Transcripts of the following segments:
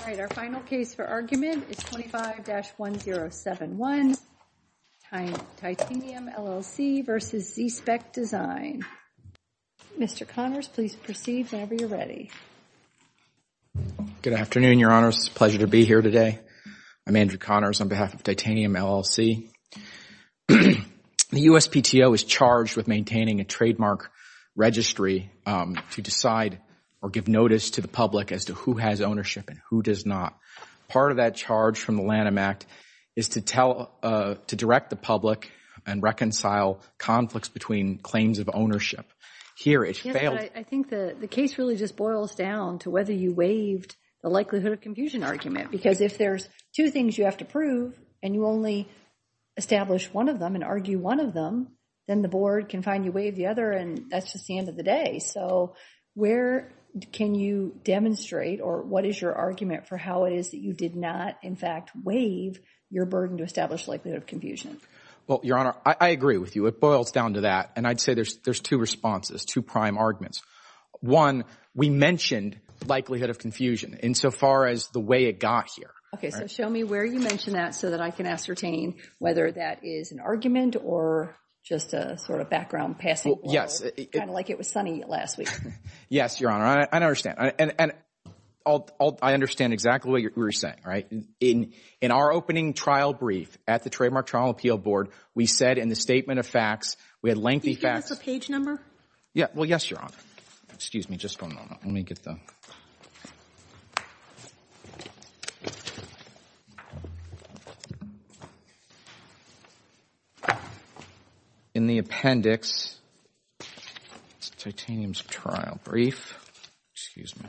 All right, our final case for argument is 25-1071, Titanium, LLC v. ZSPEC Design. Mr. Connors, please proceed whenever you're ready. Good afternoon, Your Honors. It's a pleasure to be here today. I'm Andrew Connors on behalf of Titanium, LLC. The USPTO is charged with maintaining a trademark registry to decide or give notice to the public as to who has ownership and who does not. Part of that charge from the Lanham Act is to direct the public and reconcile conflicts between claims of ownership. Here it failed. I think the case really just boils down to whether you waived the likelihood of confusion argument because if there's two things you have to prove and you only establish one of them and argue one of them, then the board can find you waived the other and that's just the end of the day. So where can you demonstrate or what is your argument for how it is that you did not, in fact, waive your burden to establish likelihood of confusion? Well, Your Honor, I agree with you. It boils down to that. And I'd say there's two responses, two prime arguments. One, we mentioned likelihood of confusion insofar as the way it got here. Okay, so show me where you mentioned that so that I can ascertain whether that is an argument or just a sort of background passing? Yes. Kind of like it was sunny last week. Yes, Your Honor, I understand. And I understand exactly what you're saying, right? In our opening trial brief at the Trademark Trial Appeal Board, we said in the statement of facts, we had lengthy facts. Can you give us a page number? Well, yes, Your Honor. Excuse me just for a moment. Let me get the… In the appendix, Titanium's trial brief. Excuse me.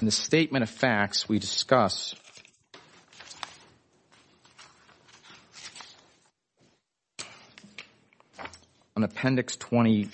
In the statement of facts, we discuss on appendix 20,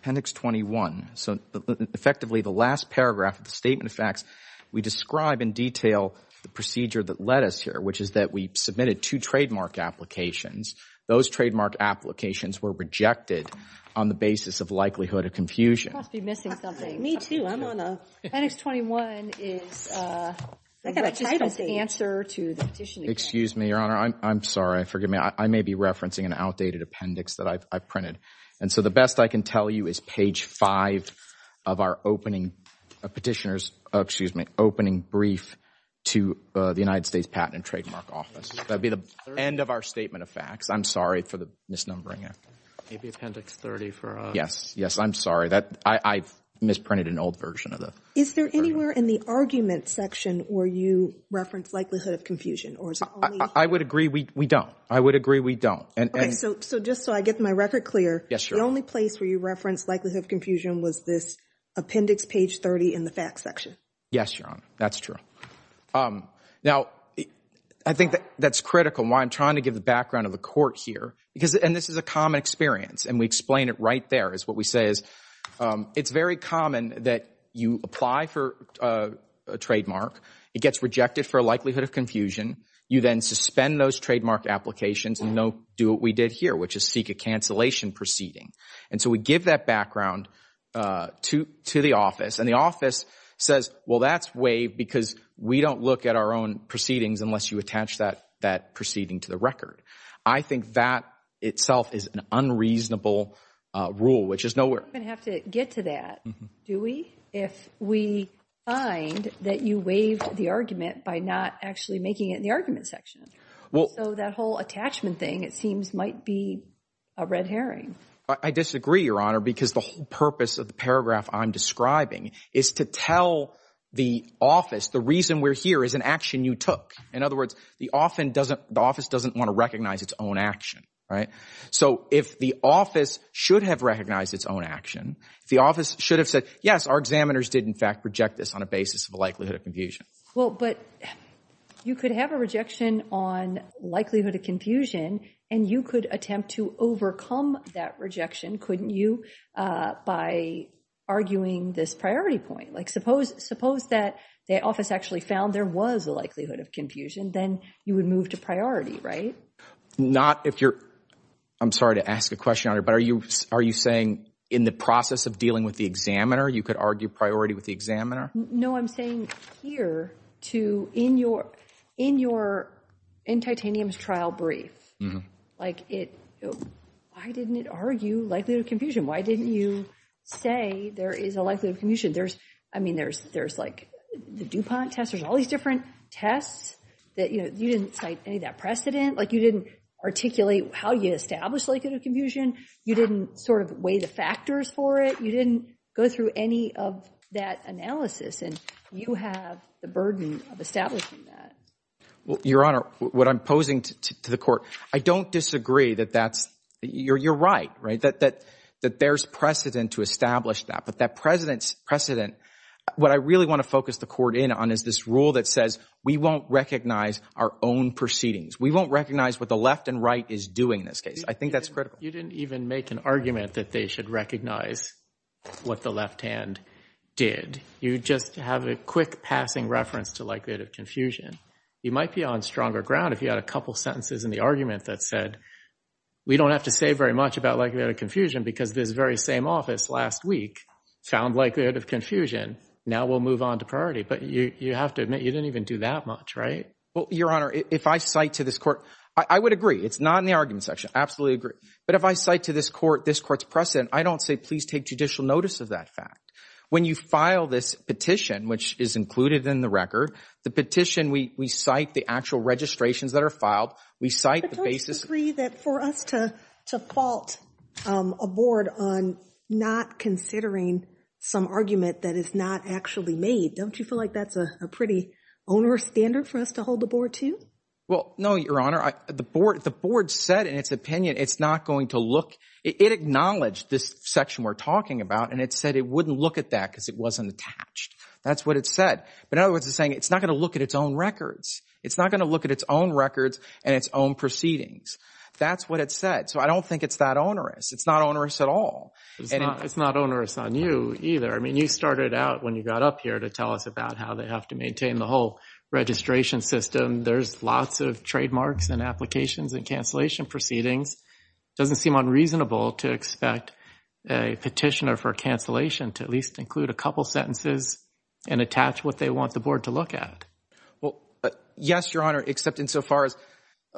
appendix 21. So effectively, the last paragraph of the statement of facts, we describe in detail the procedure that led us here, which is that we submitted two trademark applications. Those trademark applications were rejected on the basis of likelihood of confusion. I must be missing something. Me too. I'm on a… Appendix 21 is… I got a title. It's an answer to the petition. Excuse me, Your Honor. I'm sorry. Forgive me. I may be referencing an outdated appendix that I've printed. And so the best I can tell you is page 5 of our opening petitioners, excuse me, opening brief to the United States Patent and Trademark Office. That would be the end of our statement of facts. I'm sorry for the misnumbering. Maybe appendix 30 for us. Yes. Yes. I'm sorry. I've misprinted an old version of the… Is there anywhere in the argument section where you reference likelihood of confusion? I would agree we don't. I would agree we don't. Okay. So just so I get my record clear. Yes, Your Honor. The only place where you reference likelihood of confusion was this appendix page 30 in the facts section. Yes, Your Honor. That's true. Now, I think that's critical and why I'm trying to give the background of the court here. And this is a common experience, and we explain it right there is what we say is it's very common that you apply for a trademark. It gets rejected for a likelihood of confusion. You then suspend those trademark applications and do what we did here, which is seek a cancellation proceeding. And so we give that background to the office. And the office says, well, that's waived because we don't look at our own proceedings unless you attach that proceeding to the record. I think that itself is an unreasonable rule, which is nowhere. We don't even have to get to that, do we, if we find that you waived the argument by not actually making it in the argument section. So that whole attachment thing, it seems, might be a red herring. I disagree, Your Honor, because the whole purpose of the paragraph I'm describing is to tell the office the reason we're here is an action you took. In other words, the office doesn't want to recognize its own action. So if the office should have recognized its own action, the office should have said, yes, our examiners did, in fact, reject this on a basis of a likelihood of confusion. Well, but you could have a rejection on likelihood of confusion, and you could attempt to overcome that rejection, couldn't you, by arguing this priority point? Like, suppose that the office actually found there was a likelihood of confusion, then you would move to priority, right? Not if you're – I'm sorry to ask a question, Your Honor, but are you saying in the process of dealing with the examiner, you could argue priority with the examiner? No, I'm saying here to – in your – in titanium's trial brief, like it – why didn't it argue likelihood of confusion? Why didn't you say there is a likelihood of confusion? There's – I mean, there's like the DuPont test. There's all these different tests that, you know, you didn't cite any of that precedent. Like, you didn't articulate how you established likelihood of confusion. You didn't sort of weigh the factors for it. You didn't go through any of that analysis, and you have the burden of establishing that. Well, Your Honor, what I'm posing to the court, I don't disagree that that's – you're right, right, that there's precedent to establish that. But that precedent – what I really want to focus the court in on is this rule that says we won't recognize our own proceedings. We won't recognize what the left and right is doing in this case. I think that's critical. You didn't even make an argument that they should recognize what the left hand did. You just have a quick passing reference to likelihood of confusion. You might be on stronger ground if you had a couple sentences in the argument that said we don't have to say very much about likelihood of confusion because this very same office last week found likelihood of confusion. Now we'll move on to priority. But you have to admit you didn't even do that much, right? Well, Your Honor, if I cite to this court – I would agree. It's not in the argument section. I absolutely agree. But if I cite to this court this court's precedent, I don't say please take judicial notice of that fact. When you file this petition, which is included in the record, the petition we cite the actual registrations that are filed. We cite the basis – But don't you agree that for us to fault a board on not considering some argument that is not actually made, don't you feel like that's a pretty onerous standard for us to hold the board to? Well, no, Your Honor. The board said in its opinion it's not going to look – it acknowledged this section we're talking about and it said it wouldn't look at that because it wasn't attached. That's what it said. But in other words, it's saying it's not going to look at its own records. It's not going to look at its own records and its own proceedings. That's what it said. So I don't think it's that onerous. It's not onerous at all. It's not onerous on you either. I mean you started out when you got up here to tell us about how they have to maintain the whole registration system. There's lots of trademarks and applications and cancellation proceedings. It doesn't seem unreasonable to expect a petitioner for cancellation to at least include a couple sentences and attach what they want the board to look at. Well, yes, Your Honor, except insofar as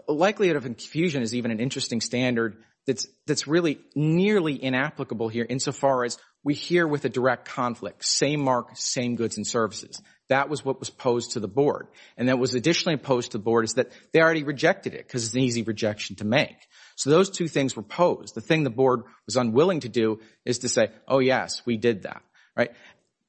likelihood of confusion is even an interesting standard that's really nearly inapplicable here insofar as we hear with a direct conflict. Same mark, same goods and services. That was what was posed to the board. And that was additionally posed to the board is that they already rejected it because it's an easy rejection to make. So those two things were posed. The thing the board was unwilling to do is to say, oh, yes, we did that.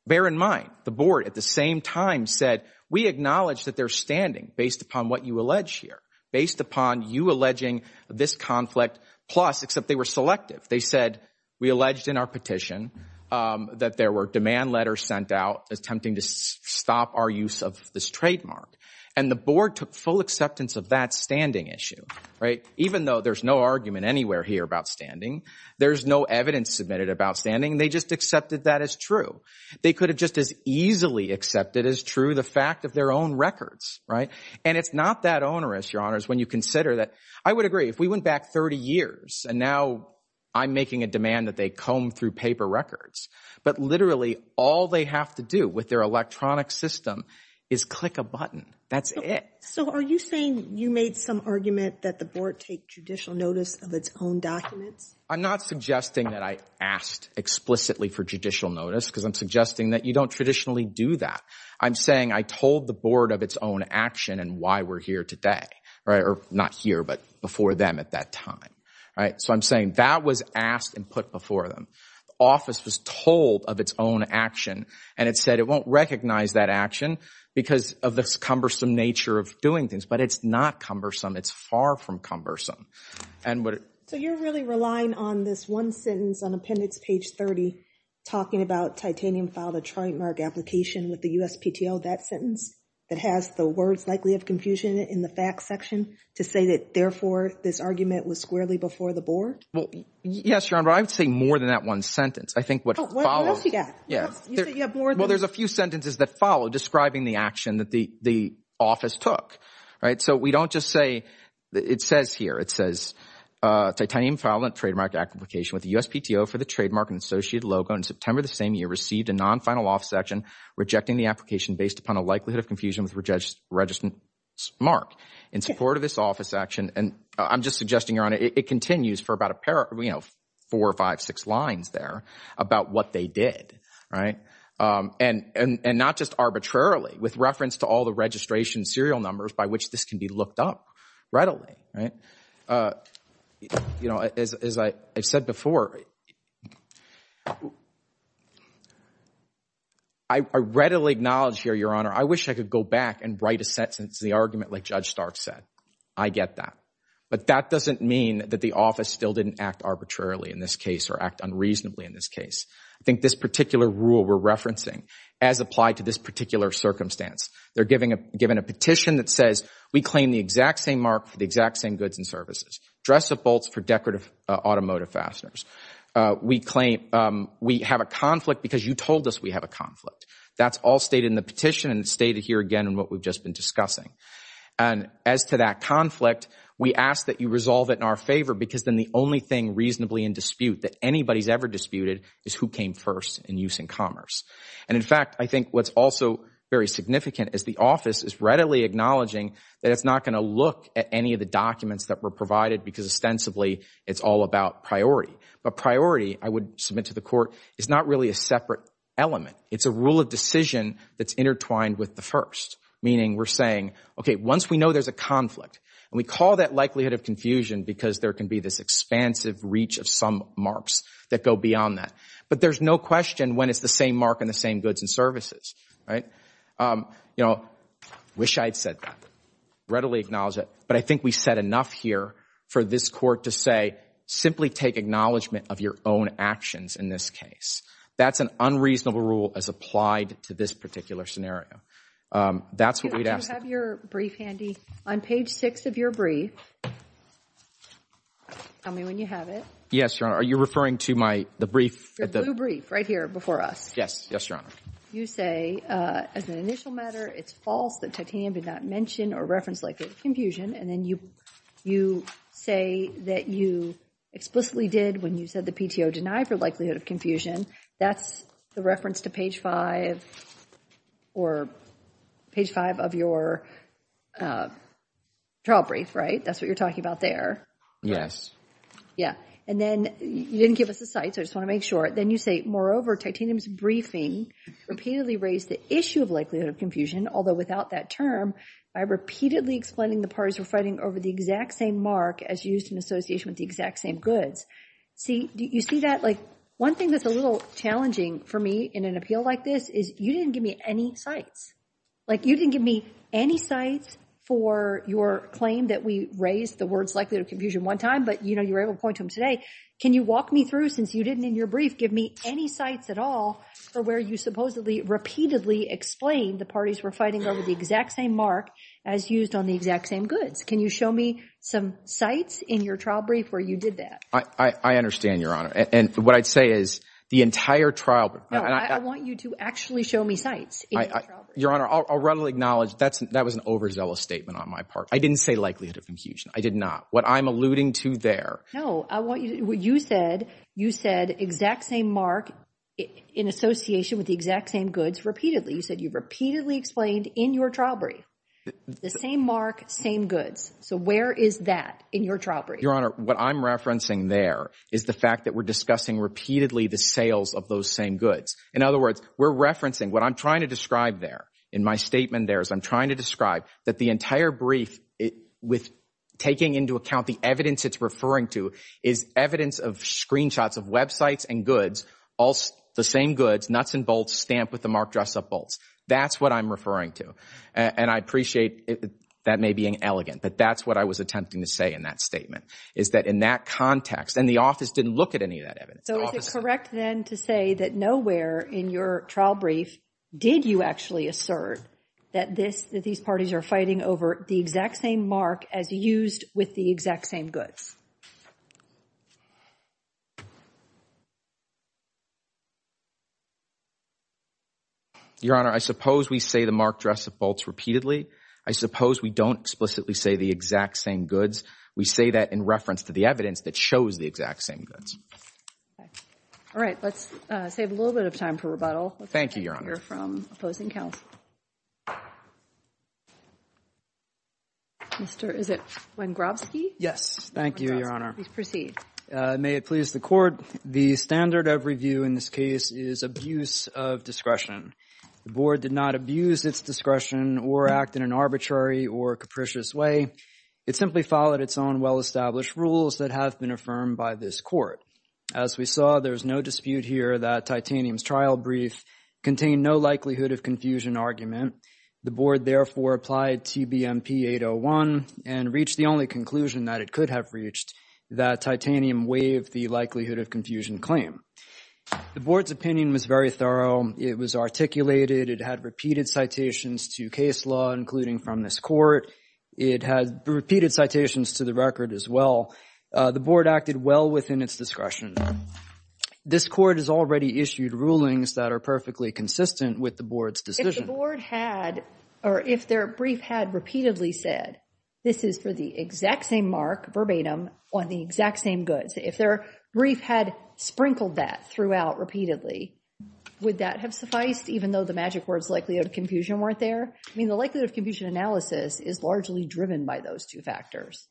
Bear in mind, the board at the same time said we acknowledge that they're standing based upon what you allege here, based upon you alleging this conflict, plus, except they were selective. They said we alleged in our petition that there were demand letters sent out attempting to stop our use of this trademark. And the board took full acceptance of that standing issue, right, even though there's no argument anywhere here about standing. There's no evidence submitted about standing. They just accepted that as true. They could have just as easily accepted as true the fact of their own records, right? And it's not that onerous, Your Honors, when you consider that I would agree. If we went back 30 years and now I'm making a demand that they comb through paper records, but literally all they have to do with their electronic system is click a button. That's it. So are you saying you made some argument that the board take judicial notice of its own documents? I'm not suggesting that I asked explicitly for judicial notice because I'm suggesting that you don't traditionally do that. I'm saying I told the board of its own action and why we're here today, right, or not here, but before them at that time, right? So I'm saying that was asked and put before them. The office was told of its own action, and it said it won't recognize that action because of this cumbersome nature of doing things. But it's not cumbersome. It's far from cumbersome. So you're really relying on this one sentence on appendix page 30 talking about titanium filed a trademark application with the USPTO, that sentence that has the words likely of confusion in the fact section to say that, therefore, this argument was squarely before the board? Yes, Your Honor. I would say more than that one sentence. I think what follows. What else you got? Well, there's a few sentences that follow describing the action that the office took, right? So we don't just say it says here. It says titanium filed a trademark application with the USPTO for the trademark and associated logo in September of the same year, received a non-final office action rejecting the application based upon a likelihood of confusion with registered mark. In support of this office action, and I'm just suggesting, Your Honor, it continues for about four or five, six lines there about what they did, right? And not just arbitrarily with reference to all the registration serial numbers by which this can be looked up readily, right? As I've said before, I readily acknowledge here, Your Honor. I wish I could go back and write a sentence in the argument like Judge Stark said. I get that. But that doesn't mean that the office still didn't act arbitrarily in this case or act unreasonably in this case. I think this particular rule we're referencing as applied to this particular circumstance. They're giving a petition that says we claim the exact same mark for the exact same goods and services, dress up bolts for decorative automotive fasteners. We claim we have a conflict because you told us we have a conflict. That's all stated in the petition and stated here again in what we've just been discussing. And as to that conflict, we ask that you resolve it in our favor because then the only thing reasonably in dispute that anybody's ever disputed is who came first in use in commerce. And in fact, I think what's also very significant is the office is readily acknowledging that it's not going to look at any of the documents that were provided because ostensibly it's all about priority. But priority, I would submit to the court, is not really a separate element. It's a rule of decision that's intertwined with the first. Meaning we're saying, okay, once we know there's a conflict, and we call that likelihood of confusion because there can be this expansive reach of some marks that go beyond that. But there's no question when it's the same mark and the same goods and services, right? You know, wish I had said that, readily acknowledge it. But I think we said enough here for this court to say simply take acknowledgement of your own actions in this case. That's an unreasonable rule as applied to this particular scenario. That's what we'd ask. Do you have your brief handy? On page 6 of your brief, tell me when you have it. Yes, Your Honor. Are you referring to my, the brief? Your blue brief right here before us. Yes. Yes, Your Honor. You say as an initial matter, it's false that Titanium did not mention or reference likelihood of confusion. And then you say that you explicitly did when you said the PTO denied for likelihood of confusion. That's the reference to page 5 or page 5 of your trial brief, right? That's what you're talking about there. Yeah. And then you didn't give us a cite, so I just want to make sure. Then you say, moreover, Titanium's briefing repeatedly raised the issue of likelihood of confusion, although without that term, by repeatedly explaining the parties were fighting over the exact same mark as used in association with the exact same goods. See, do you see that? Like, one thing that's a little challenging for me in an appeal like this is you didn't give me any cites. Like, you didn't give me any cites for your claim that we raised the words likelihood of confusion one time, but, you know, you were able to point to them today. Can you walk me through, since you didn't in your brief give me any cites at all for where you supposedly repeatedly explained the parties were fighting over the exact same mark as used on the exact same goods? Can you show me some cites in your trial brief where you did that? I understand, Your Honor. And what I'd say is the entire trial— No, I want you to actually show me cites in your trial brief. Your Honor, I'll readily acknowledge that was an overzealous statement on my part. I didn't say likelihood of confusion. I did not. What I'm alluding to there— No, I want you—you said exact same mark in association with the exact same goods repeatedly. You said you repeatedly explained in your trial brief the same mark, same goods. So where is that in your trial brief? Your Honor, what I'm referencing there is the fact that we're discussing repeatedly the sales of those same goods. In other words, we're referencing—what I'm trying to describe there in my statement there is I'm trying to describe that the entire brief with taking into account the evidence it's referring to is evidence of screenshots of websites and goods, the same goods, nuts and bolts, stamped with the marked dress-up bolts. That's what I'm referring to. And I appreciate that may be an elegant, but that's what I was attempting to say in that statement is that in that context—and the office didn't look at any of that evidence. So is it correct then to say that nowhere in your trial brief did you actually assert that this— that these parties are fighting over the exact same mark as used with the exact same goods? Your Honor, I suppose we say the marked dress-up bolts repeatedly. I suppose we don't explicitly say the exact same goods. We say that in reference to the evidence that shows the exact same goods. All right. Let's save a little bit of time for rebuttal. Thank you, Your Honor. Let's hear from opposing counsel. Mr.—is it Wengrobski? Yes. Thank you, Your Honor. Please proceed. May it please the Court. The standard of review in this case is abuse of discretion. The Board did not abuse its discretion or act in an arbitrary or capricious way. It simply followed its own well-established rules that have been affirmed by this Court. As we saw, there is no dispute here that Titanium's trial brief contained no likelihood of confusion argument. The Board therefore applied TBMP 801 and reached the only conclusion that it could have reached, that Titanium waived the likelihood of confusion claim. The Board's opinion was very thorough. It was articulated. It had repeated citations to case law, including from this Court. It had repeated citations to the record as well. The Board acted well within its discretion. This Court has already issued rulings that are perfectly consistent with the Board's decision. If the Board had or if their brief had repeatedly said, this is for the exact same mark, verbatim, on the exact same goods, if their brief had sprinkled that throughout repeatedly, would that have sufficed even though the magic words likelihood of confusion weren't there? I mean, the likelihood of confusion analysis is largely driven by those two factors.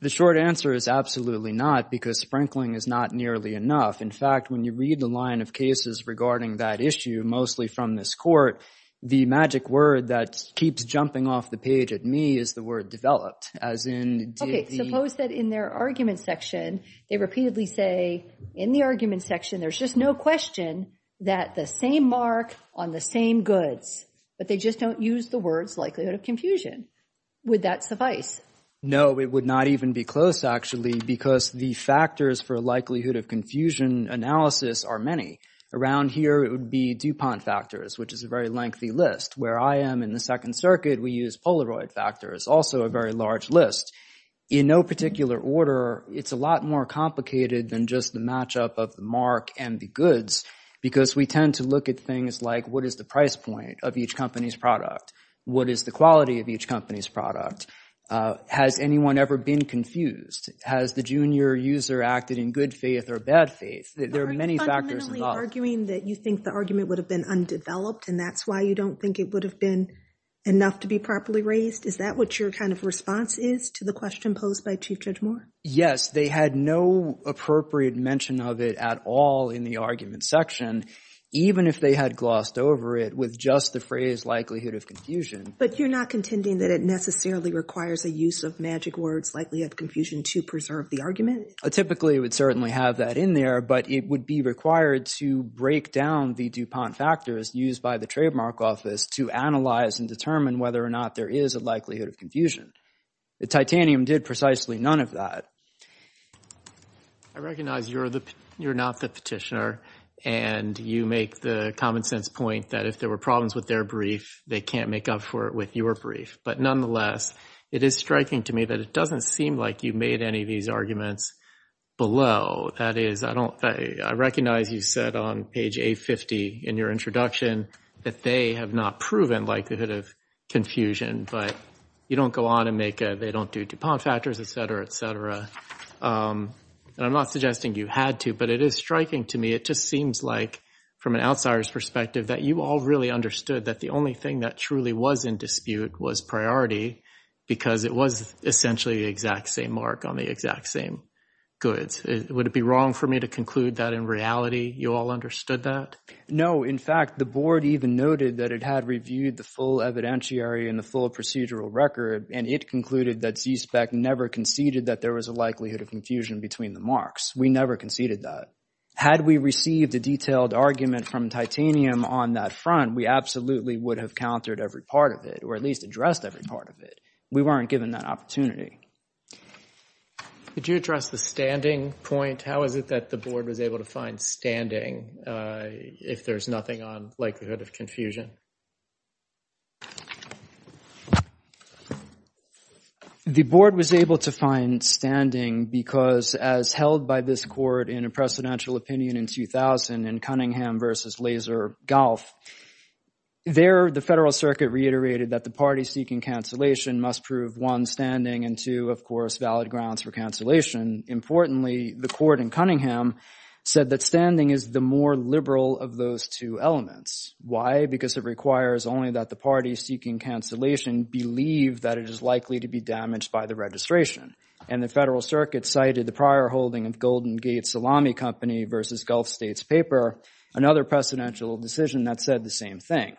The short answer is absolutely not because sprinkling is not nearly enough. In fact, when you read the line of cases regarding that issue, mostly from this Court, the magic word that keeps jumping off the page at me is the word developed. Okay, suppose that in their argument section they repeatedly say, in the argument section there's just no question that the same mark on the same goods, but they just don't use the words likelihood of confusion. Would that suffice? No, it would not even be close, actually, because the factors for likelihood of confusion analysis are many. Around here, it would be DuPont factors, which is a very lengthy list. Where I am in the Second Circuit, we use Polaroid factors, also a very large list. In no particular order, it's a lot more complicated than just the matchup of the mark and the goods because we tend to look at things like what is the price point of each company's product? What is the quality of each company's product? Has anyone ever been confused? Has the junior user acted in good faith or bad faith? There are many factors involved. Are you fundamentally arguing that you think the argument would have been undeveloped and that's why you don't think it would have been enough to be properly raised? Is that what your kind of response is to the question posed by Chief Judge Moore? Yes, they had no appropriate mention of it at all in the argument section, even if they had glossed over it with just the phrase likelihood of confusion. But you're not contending that it necessarily requires a use of magic words, likelihood of confusion, to preserve the argument? Typically, it would certainly have that in there, but it would be required to break down the DuPont factors used by the trademark office to analyze and determine whether or not there is a likelihood of confusion. The titanium did precisely none of that. I recognize you're not the petitioner and you make the common sense point that if there were problems with their brief, they can't make up for it with your brief. But nonetheless, it is striking to me that it doesn't seem like you made any of these arguments below. That is, I recognize you said on page 850 in your introduction that they have not proven likelihood of confusion, but you don't go on and make a they don't do DuPont factors, et cetera, et cetera. And I'm not suggesting you had to, but it is striking to me. It just seems like from an outsider's perspective that you all really understood that the only thing that truly was in dispute was priority because it was essentially the exact same mark on the exact same goods. Would it be wrong for me to conclude that in reality you all understood that? No. In fact, the board even noted that it had reviewed the full evidentiary and the full procedural record, and it concluded that CSPEC never conceded that there was a likelihood of confusion between the marks. We never conceded that. Had we received a detailed argument from titanium on that front, we absolutely would have countered every part of it or at least addressed every part of it. We weren't given that opportunity. Could you address the standing point? How is it that the board was able to find standing if there's nothing on likelihood of confusion? The board was able to find standing because as held by this court in a precedential opinion in 2000 in Cunningham versus Laser Golf, there the federal circuit reiterated that the party seeking cancellation must prove, one, standing, and two, of course, valid grounds for cancellation. Importantly, the court in Cunningham said that standing is the more liberal of those two elements. Why? Because it requires only that the parties seeking cancellation believe that it is likely to be damaged by the registration. And the federal circuit cited the prior holding of Golden Gate Salami Company versus Gulf States Paper, another precedential decision that said the same thing.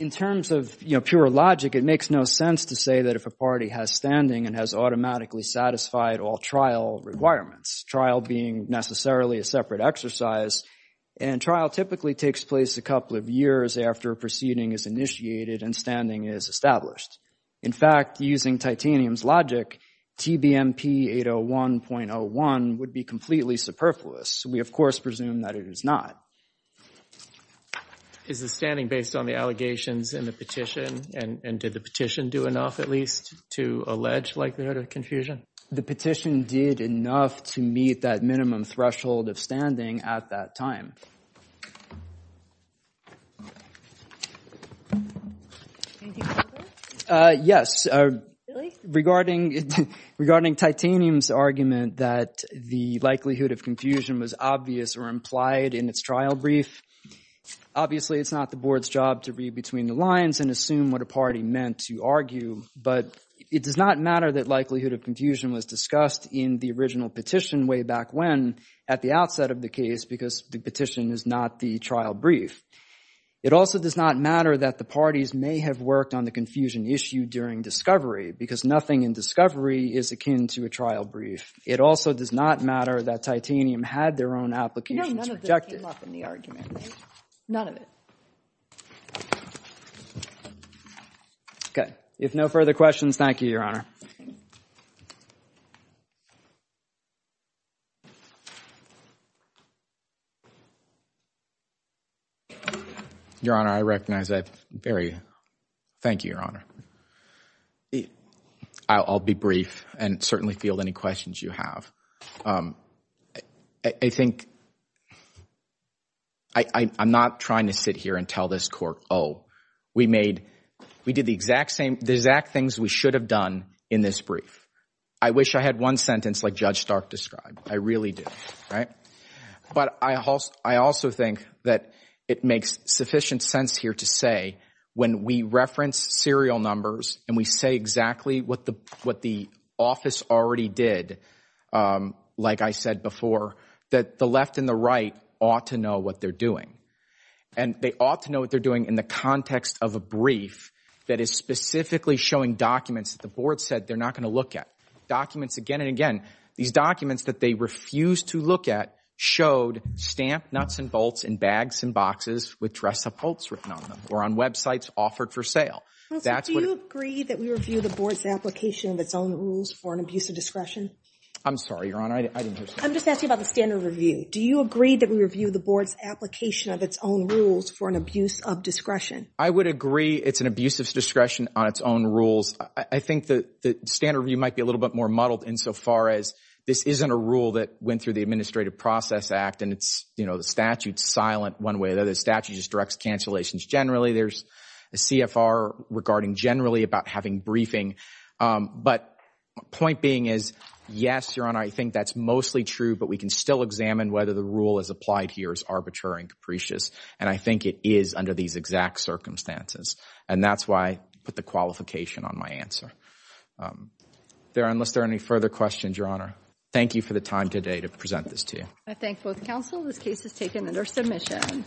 In terms of, you know, pure logic, it makes no sense to say that if a party has standing and has automatically satisfied all trial requirements, trial being necessarily a separate exercise, and trial typically takes place a couple of years after a proceeding is initiated and standing is established. In fact, using titanium's logic, TBMP 801.01 would be completely superfluous. We, of course, presume that it is not. Is the standing based on the allegations in the petition? And did the petition do enough, at least, to allege likelihood of confusion? The petition did enough to meet that minimum threshold of standing at that time. Anything further? Yes. Really? Regarding titanium's argument that the likelihood of confusion was obvious or implied in its trial brief, obviously, it's not the board's job to read between the lines and assume what a party meant to argue. But it does not matter that likelihood of confusion was discussed in the original petition way back when, at the outset of the case, because the petition is not the trial brief. It also does not matter that the parties may have worked on the confusion issue during discovery because nothing in discovery is akin to a trial brief. It also does not matter that titanium had their own applications projected. You know, none of this came up in the argument. None of it. Okay. If no further questions, thank you, Your Honor. Your Honor, I recognize that very – thank you, Your Honor. I'll be brief and certainly field any questions you have. I think – I'm not trying to sit here and tell this court, oh, we made – we did the exact same – the exact things we should have done in this brief. I wish I had one sentence like Judge Stark described. I really do. Right? It makes sufficient sense here to say when we reference serial numbers and we say exactly what the office already did, like I said before, that the left and the right ought to know what they're doing. And they ought to know what they're doing in the context of a brief that is specifically showing documents that the board said they're not going to look at. Documents again and again. These documents that they refused to look at showed stamped nuts and bolts in bags and boxes with dress-up quotes written on them or on websites offered for sale. Counsel, do you agree that we review the board's application of its own rules for an abuse of discretion? I'm sorry, Your Honor. I didn't hear. I'm just asking about the standard review. Do you agree that we review the board's application of its own rules for an abuse of discretion? I would agree it's an abuse of discretion on its own rules. I think the standard review might be a little bit more muddled insofar as this isn't a rule that went through the Administrative Process Act and it's, you know, the statute's silent one way or the other. The statute just directs cancellations generally. There's a CFR regarding generally about having briefing. But point being is, yes, Your Honor, I think that's mostly true, but we can still examine whether the rule as applied here is arbitrary and capricious. And I think it is under these exact circumstances. And that's why I put the qualification on my answer. Unless there are any further questions, Your Honor, thank you for the time today to present this to you. I thank both counsel. This case is taken under submission.